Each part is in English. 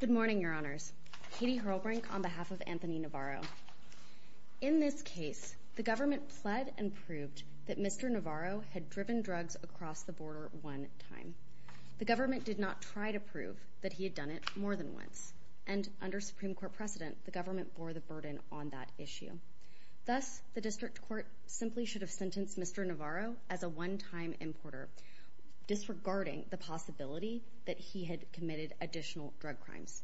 Good morning, Your Honors. Katie Hurlbrink on behalf of Anthony Navarro. In this case, the government pled and proved that Mr. Navarro had driven drugs across the border one time. The government did not try to prove that he had done it more than once. And under Supreme Court precedent, the government bore the burden on that issue. Thus, the district court simply should have sentenced Mr. Navarro as a one-time importer, disregarding the possibility that he had committed additional drug crimes.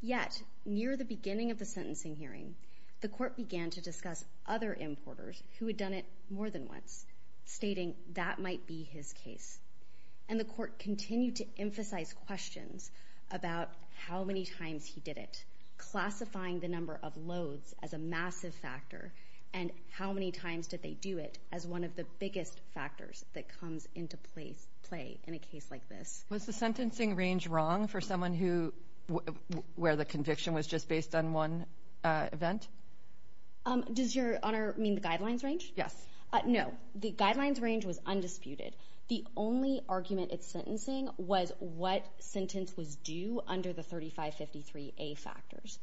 Yet, near the beginning of the sentencing hearing, the court began to discuss other importers who had done it more than once, stating that might be his case. And the court continued to emphasize questions about how many times he did it, classifying the number of loads as a massive factor, and how many times did they do it as one of the biggest factors that comes into play in a case like this. Was the sentencing range wrong for someone who, where the conviction was just based on one event? Does Your Honor mean the guidelines range? Yes. No. The guidelines range was undisputed. The only argument at sentencing was what sentence was due under the 3553A factors.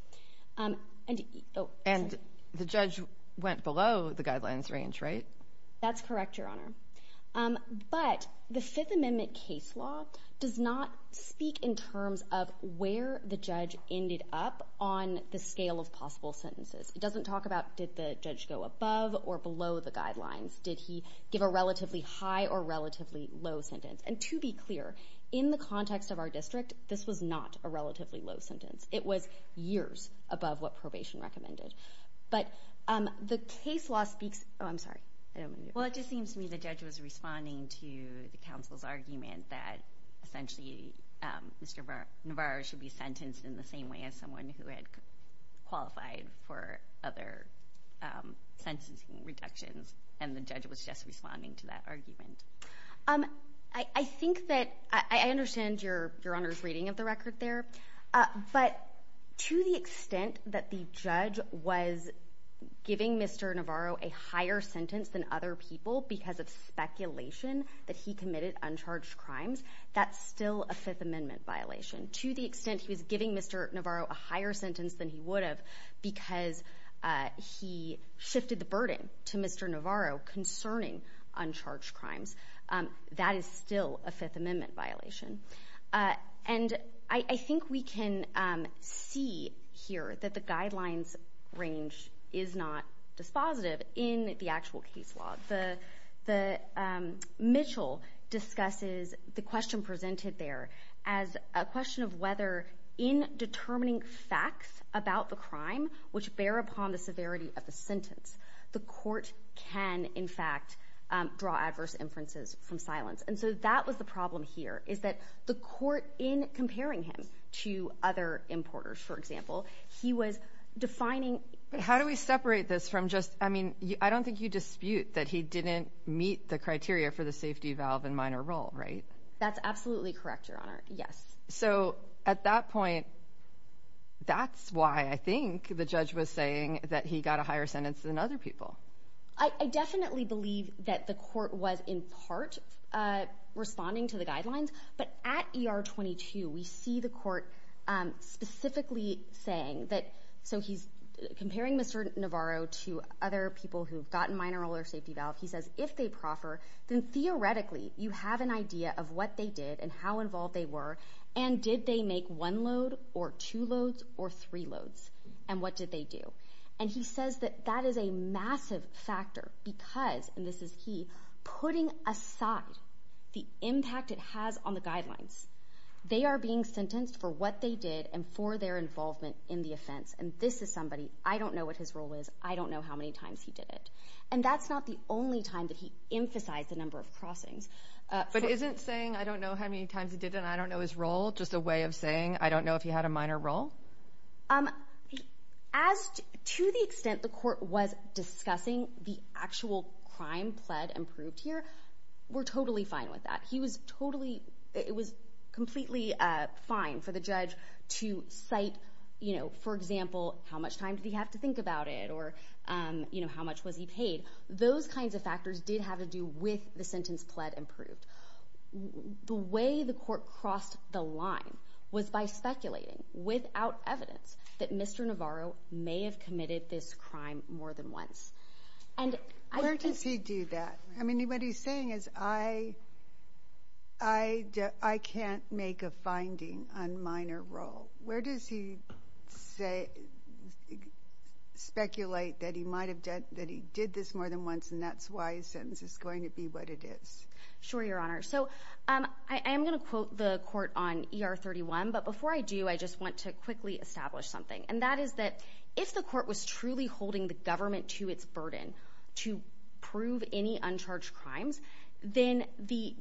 And the judge went below the guidelines range, right? That's correct, Your Honor. But the Fifth Amendment case law does not speak in terms of where the judge ended up on the scale of possible sentences. It doesn't talk about did the judge go above or below the guidelines. Did he give a relatively high or relatively low sentence? And to be clear, in the context of our district, this was not a relatively low sentence. It was years above what probation recommended. But the case law speaks – oh, I'm sorry, I don't want to interrupt. Well, it just seems to me the judge was responding to the counsel's argument that essentially Mr. Navarro should be sentenced in the same way as someone who had qualified for other sentencing reductions, and the judge was just responding to that argument. I think that – I understand Your Honor's reading of the record there, but to the extent that the judge was giving Mr. Navarro a higher sentence than other people because of speculation that he committed uncharged crimes, that's still a Fifth Amendment violation. To the extent he was giving Mr. Navarro a higher sentence than he would have because he shifted the burden to Mr. Navarro concerning uncharged crimes, that is still a Fifth Amendment violation. And I think we can see here that the guidelines range is not dispositive in the actual case law. The – Mitchell discusses the question presented there as a question of whether in determining facts about the crime which bear upon the severity of the sentence, the court can in fact draw adverse inferences from silence. And so that was the problem here, is that the court in comparing him to other importers, for example, he was defining – But how do we separate this from just – I mean, I don't think you dispute that he didn't meet the criteria for the safety valve in minor role, right? That's absolutely correct, Your Honor, yes. So at that point, that's why I think the judge was saying that he got a higher sentence than other people. I definitely believe that the court was in part responding to the guidelines, but at ER 22, we see the court specifically saying that – so he's comparing Mr. Navarro to other people who've gotten minor role or safety valve. He says if they proffer, then theoretically you have an idea of what they did and how And did they make one load or two loads or three loads? And what did they do? And he says that that is a massive factor because – and this is key – putting aside the impact it has on the guidelines. They are being sentenced for what they did and for their involvement in the offense. And this is somebody – I don't know what his role is. I don't know how many times he did it. And that's not the only time that he emphasized the number of crossings. But isn't saying, I don't know how many times he did it, I don't know his role, just a way of saying, I don't know if he had a minor role? As to the extent the court was discussing the actual crime pled and proved here, we're totally fine with that. He was totally – it was completely fine for the judge to cite, you know, for example, how much time did he have to think about it or, you know, how much was he paid. Those kinds of factors did have to do with the sentence pled and proved. The way the court crossed the line was by speculating without evidence that Mr. Navarro may have committed this crime more than once. And I – Where does he do that? I mean, what he's saying is, I can't make a finding on minor role. Where does he say – speculate that he might have done – that he did this more than once and that's why his sentence is going to be what it is? Sure, Your Honor. So I am going to quote the court on ER-31. But before I do, I just want to quickly establish something. And that is that if the court was truly holding the government to its burden to prove any uncharged crimes, then the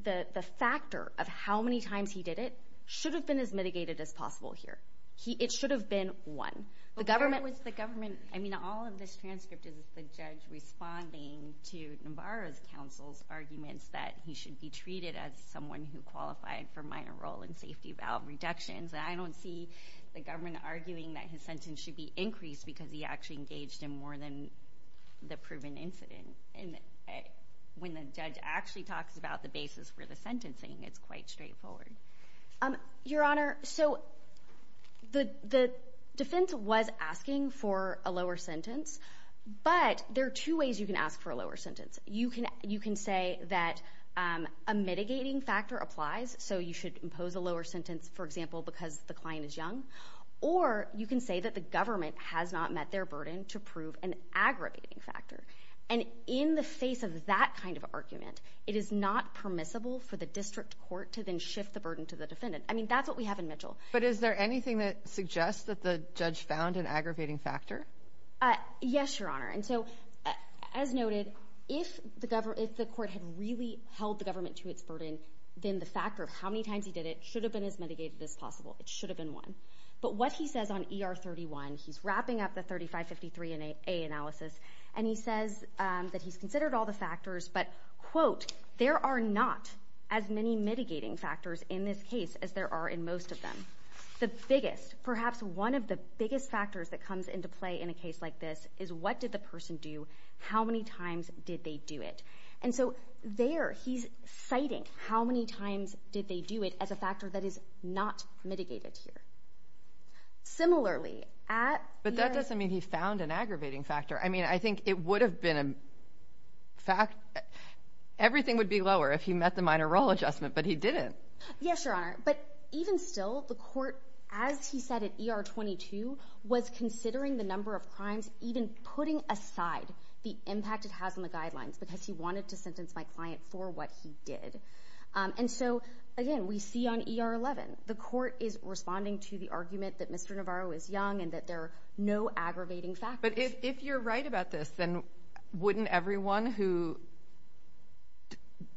factor of how many times he did it should have been as mitigated as possible here. It should have been one. The government – But where was the government – I mean, all of this transcript is the judge responding to Navarro's counsel's arguments that he should be treated as someone who qualified for minor role in safety valve reductions. And I don't see the government arguing that his sentence should be increased because he actually engaged in more than the proven incident. And when the judge actually talks about the basis for the sentencing, it's quite straightforward. Your Honor, so the defense was asking for a lower sentence, but there are two ways you can ask for a lower sentence. You can say that a mitigating factor applies, so you should impose a lower sentence, for example, because the client is young. Or you can say that the government has not met their burden to prove an aggravating factor. And in the face of that kind of argument, it is not permissible for the district court to then shift the burden to the defendant. I mean, that's what we have in Mitchell. But is there anything that suggests that the judge found an aggravating factor? Yes, Your Honor. And so, as noted, if the court had really held the government to its burden, then the factor of how many times he did it should have been as mitigated as possible. It should have been one. But what he says on ER 31, he's wrapping up the 3553A analysis, and he says that he's mitigating factors in this case as there are in most of them. The biggest, perhaps one of the biggest factors that comes into play in a case like this is what did the person do, how many times did they do it. And so there, he's citing how many times did they do it as a factor that is not mitigated Similarly, at the end of the day, he's not mitigating. But that doesn't mean he found an aggravating factor. I mean, I think it would have been a fact — everything would be lower if he met the minor role adjustment. But he didn't. Yes, Your Honor. But even still, the court, as he said at ER 22, was considering the number of crimes, even putting aside the impact it has on the guidelines, because he wanted to sentence my client for what he did. And so, again, we see on ER 11, the court is responding to the argument that Mr. Navarro is young and that there are no aggravating factors. But if you're right about this, then wouldn't everyone who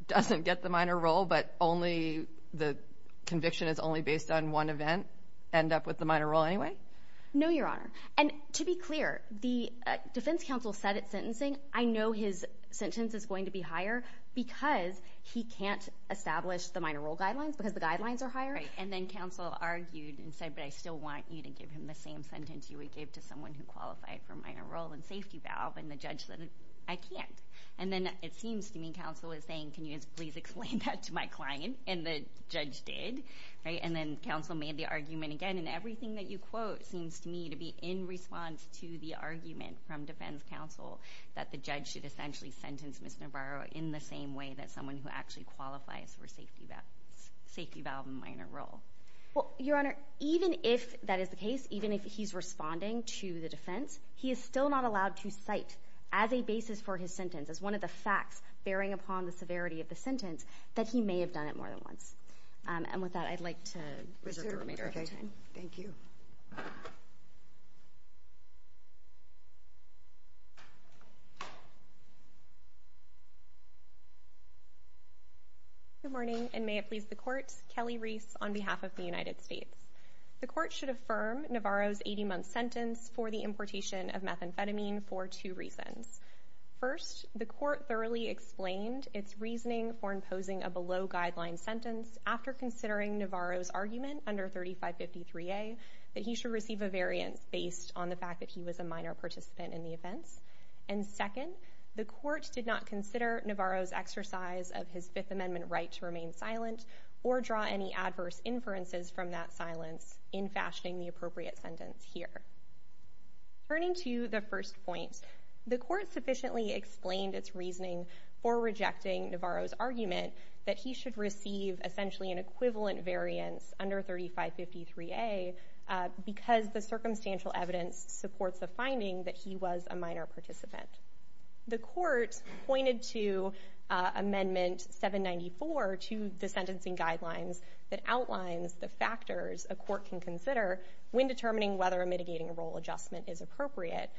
doesn't get the minor role but the conviction is only based on one event end up with the minor role anyway? No, Your Honor. And to be clear, the defense counsel said at sentencing, I know his sentence is going to be higher because he can't establish the minor role guidelines because the guidelines are higher. Right. And then counsel argued and said, but I still want you to give him the same sentence you gave to someone who qualified for minor role and safety valve, and the judge said, I can't. And then it seems to me counsel is saying, can you please explain that to my client? And the judge did, right? And then counsel made the argument again, and everything that you quote seems to me to be in response to the argument from defense counsel that the judge should essentially sentence Mr. Navarro in the same way that someone who actually qualifies for safety valve and minor role. Well, Your Honor, even if that is the case, even if he's responding to the defense, he is still not allowed to cite as a basis for his sentence, as one of the facts bearing upon the severity of the sentence, that he may have done it more than once. And with that, I'd like to reserve the remainder of our time. Thank you. Good morning, and may it please the Court. My name is Kelly Reese on behalf of the United States. The Court should affirm Navarro's 80-month sentence for the importation of methamphetamine for two reasons. First, the Court thoroughly explained its reasoning for imposing a below-guideline sentence after considering Navarro's argument under 3553A that he should receive a variance based on the fact that he was a minor participant in the offense. And second, the Court did not consider Navarro's exercise of his Fifth Amendment right to remain any adverse inferences from that silence in fashioning the appropriate sentence here. Turning to the first point, the Court sufficiently explained its reasoning for rejecting Navarro's argument that he should receive essentially an equivalent variance under 3553A because the circumstantial evidence supports the finding that he was a minor participant. The Court pointed to Amendment 794 to the sentencing guidelines that outlines the factors a court can consider when determining whether a mitigating role adjustment is appropriate.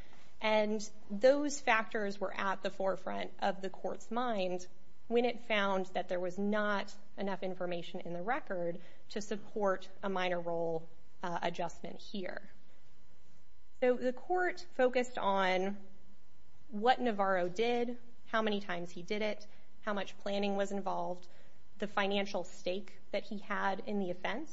And those factors were at the forefront of the Court's mind when it found that there was not enough information in the record to support a minor role adjustment here. So, the Court focused on what Navarro did, how many times he did it, how much planning was involved, the financial stake that he had in the offense,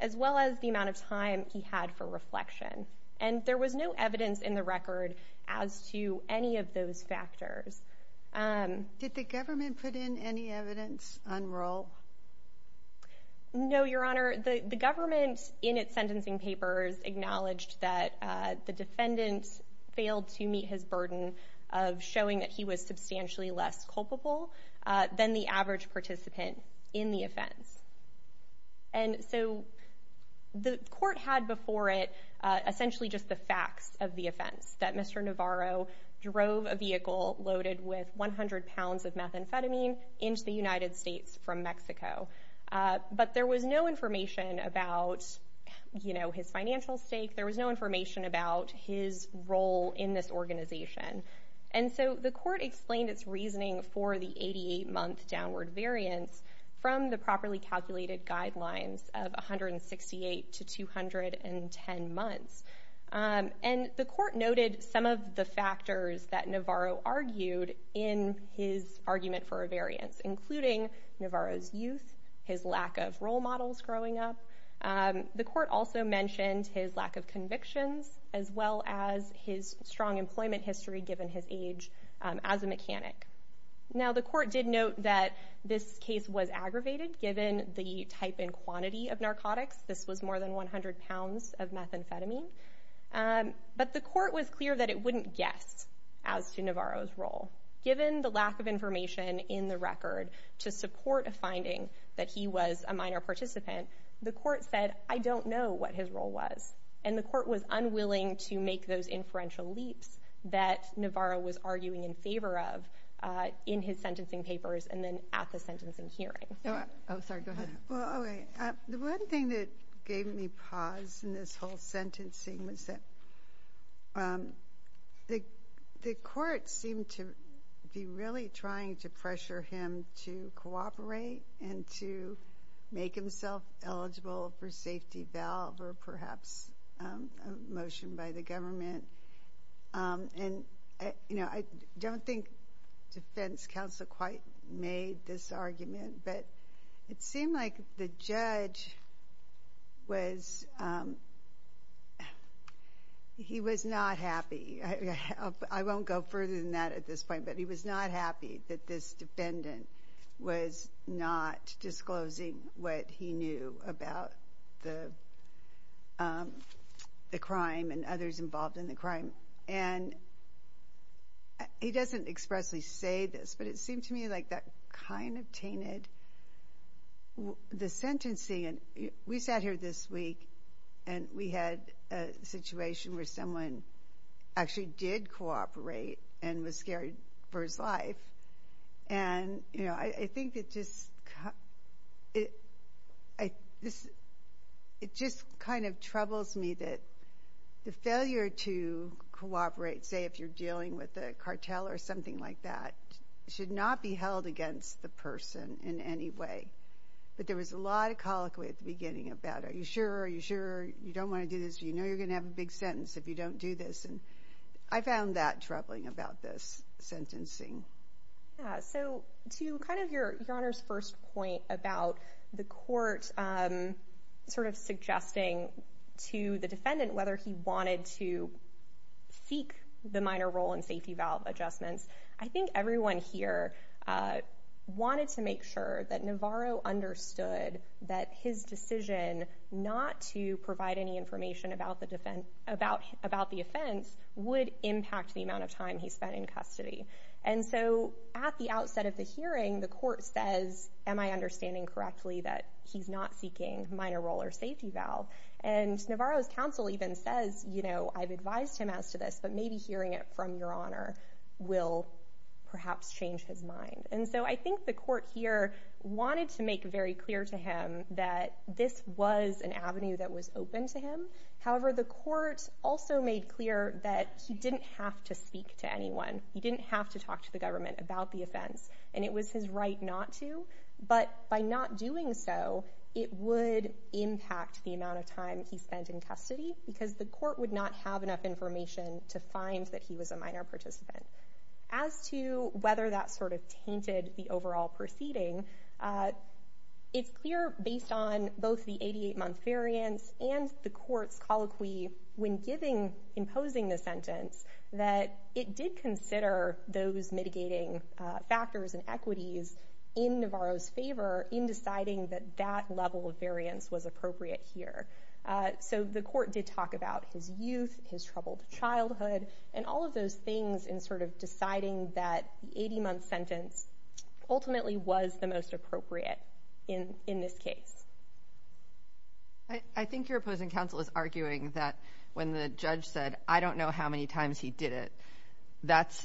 as well as the amount of time he had for reflection. And there was no evidence in the record as to any of those factors. Did the government put in any evidence on Roehl? No, Your Honor. The government, in its sentencing papers, acknowledged that the defendant failed to meet his burden of showing that he was substantially less culpable than the average participant in the offense. And so, the Court had before it essentially just the facts of the offense, that Mr. Navarro drove a vehicle loaded with 100 pounds of methamphetamine into the United States from Mexico. But there was no information about, you know, his financial stake. There was no information about his role in this organization. And so, the Court explained its reasoning for the 88-month downward variance from the properly calculated guidelines of 168 to 210 months. And the Court noted some of the factors that Navarro argued in his argument for a variance, including Navarro's youth, his lack of role models growing up. The Court also mentioned his lack of convictions, as well as his strong employment history given his age as a mechanic. Now, the Court did note that this case was aggravated given the type and quantity of narcotics. This was more than 100 pounds of methamphetamine. But the Court was clear that it wouldn't guess as to Navarro's role, given the lack of information in the record to support a finding that he was a minor participant. The Court said, I don't know what his role was. And the Court was unwilling to make those inferential leaps that Navarro was arguing in favor of in his sentencing papers and then at the sentencing hearing. Oh, sorry. Go ahead. Well, okay. The one thing that gave me pause in this whole sentencing was that the Court seemed to be really trying to pressure him to cooperate and to make himself eligible for safety valve or perhaps a motion by the government. And you know, I don't think defense counsel quite made this argument, but it seemed like the judge was, he was not happy. I won't go further than that at this point, but he was not happy that this defendant was not disclosing what he knew about the crime and others involved in the crime. And he doesn't expressly say this, but it seemed to me like that kind of tainted the sentencing. We sat here this week and we had a situation where someone actually did cooperate and was scared for his life. And you know, I think it just kind of troubles me that the failure to cooperate, say if you're dealing with a cartel or something like that, should not be held against the person in any way. But there was a lot of colloquy at the beginning about, are you sure, are you sure you don't want to do this? You know you're going to have a big sentence if you don't do this, and I found that troubling about this sentencing. So to kind of your Honor's first point about the Court sort of suggesting to the defendant whether he wanted to seek the minor role in safety valve adjustments, I think everyone here wanted to make sure that Navarro understood that his decision not to provide any information about the offense would impact the amount of time he spent in custody. And so at the outset of the hearing, the Court says, am I understanding correctly that he's not seeking minor role or safety valve? And Navarro's counsel even says, you know, I've advised him as to this, but maybe hearing it from your Honor will perhaps change his mind. And so I think the Court here wanted to make very clear to him that this was an avenue that was open to him. However, the Court also made clear that he didn't have to speak to anyone. He didn't have to talk to the government about the offense, and it was his right not to. But by not doing so, it would impact the amount of time he spent in custody, because the Court would not have enough information to find that he was a minor participant. As to whether that sort of tainted the overall proceeding, it's clear, based on both the 88-month variance and the Court's colloquy when imposing the sentence, that it did consider those mitigating factors and equities in Navarro's favor in deciding that that level of variance was appropriate here. So the Court did talk about his youth, his troubled childhood, and all of those things in sort of deciding that the 80-month sentence ultimately was the most appropriate in this case. I think your opposing counsel is arguing that when the judge said, I don't know how many times he did it, that's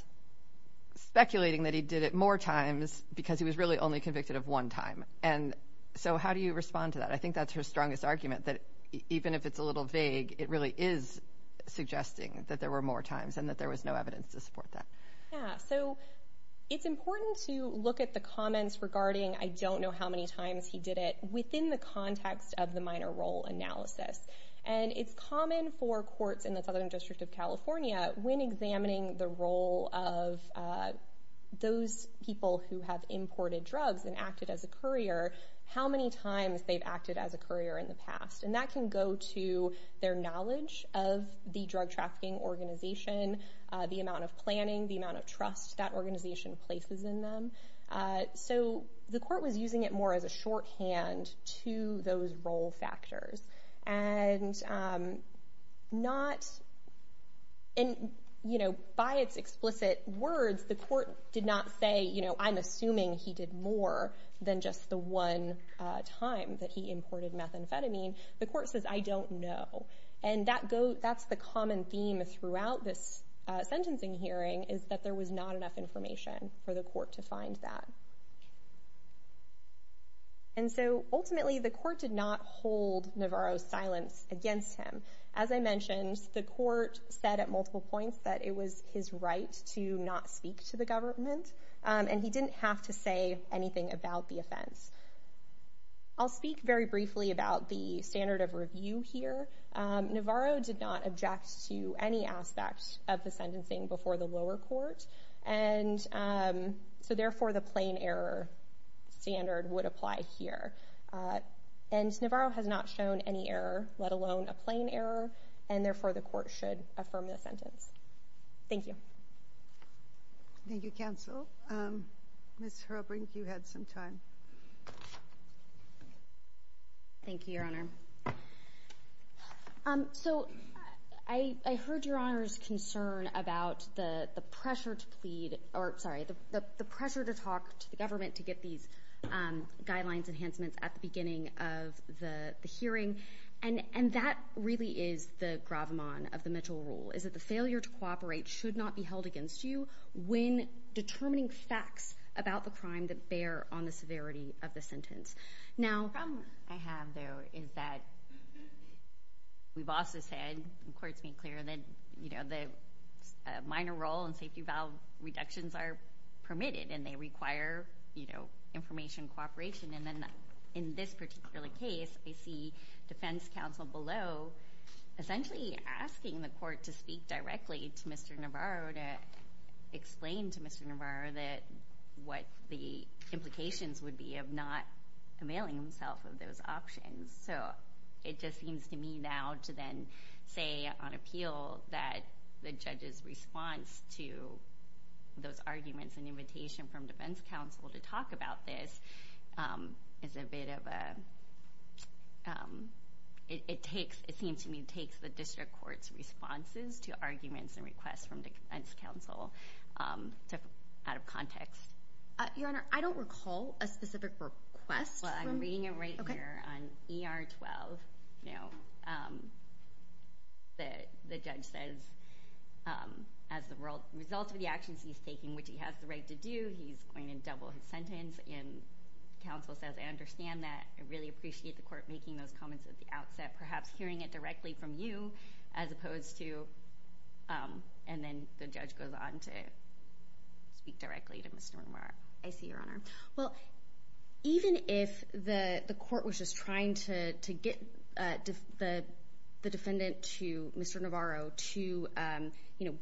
speculating that he did it more times because he was really only convicted of one time. And so how do you respond to that? I think that's her strongest argument, that even if it's a little vague, it really is suggesting that there were more times and that there was no evidence to support that. Yeah. So it's important to look at the comments regarding, I don't know how many times he did it, within the context of the minor role analysis. And it's common for courts in the Southern District of California, when examining the role of those people who have imported drugs and acted as a courier, how many times they've acted as a courier in the past. And that can go to their knowledge of the drug trafficking organization, the amount of planning, the amount of trust that organization places in them. So the Court was using it more as a shorthand to those role factors. And by its explicit words, the Court did not say, I'm assuming he did more than just the one time that he imported methamphetamine. The Court says, I don't know. And that's the common theme throughout this sentencing hearing, is that there was not enough information for the Court to find that. And so ultimately, the Court did not hold Navarro's silence against him. As I mentioned, the Court said at multiple points that it was his right to not speak to the government. And he didn't have to say anything about the offense. I'll speak very briefly about the standard of review here. Navarro did not object to any aspect of the sentencing before the lower court. And so therefore, the plain error standard would apply here. And Navarro has not shown any error, let alone a plain error. And therefore, the Court should affirm the sentence. Thank you. Thank you, counsel. Ms. Herbrink, you had some time. Thank you, Your Honor. So I heard Your Honor's concern about the pressure to talk to the government to get these guidelines enhancements at the beginning of the hearing. And that really is the gravamon of the Mitchell rule, is that the failure to cooperate should not be held against you when determining facts about the crime that bear on the severity of the sentence. Now, the problem I have, though, is that we've also said, and the Court's made clear, that the minor role and safety valve reductions are permitted. And they require information cooperation. And then in this particular case, I see defense counsel below essentially asking the Court to speak directly to Mr. Navarro, to explain to Mr. Navarro what the implications would be of not availing himself of those options. So it just seems to me now to then say on appeal that the judge's response to those arguments and invitation from defense counsel to talk about this is a bit of a, it takes, it seems to me, it takes the district court's responses to arguments and requests from defense counsel out of context. Your Honor, I don't recall a specific request from... Well, I'm reading it right here on ER 12. You know, the judge says, as a result of the actions he's taking, which he has the right to do, he's going to double his sentence. And counsel says, I understand that. I really appreciate the Court making those comments at the outset, perhaps hearing it directly from you, as opposed to, and then the judge goes on to speak directly to Mr. Navarro. I see, Your Honor. Well, even if the Court was just trying to get the defendant to Mr. Navarro to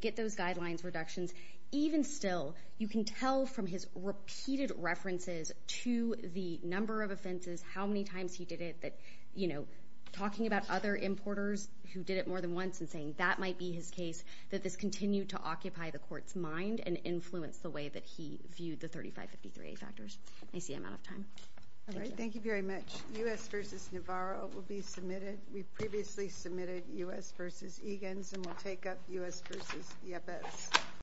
get those guidelines reductions, even still, you can tell from his repeated references to the number of offenses, how many times he did it, that, you know, talking about other importers who did it more than once and saying that might be his case, that this continued to occupy the Court's mind and influence the way that he viewed the 3553A factors. I see I'm out of time. All right, thank you very much. U.S. v. Navarro will be submitted. We've previously submitted U.S. v. Egan's, and we'll take up U.S. v. Yepes.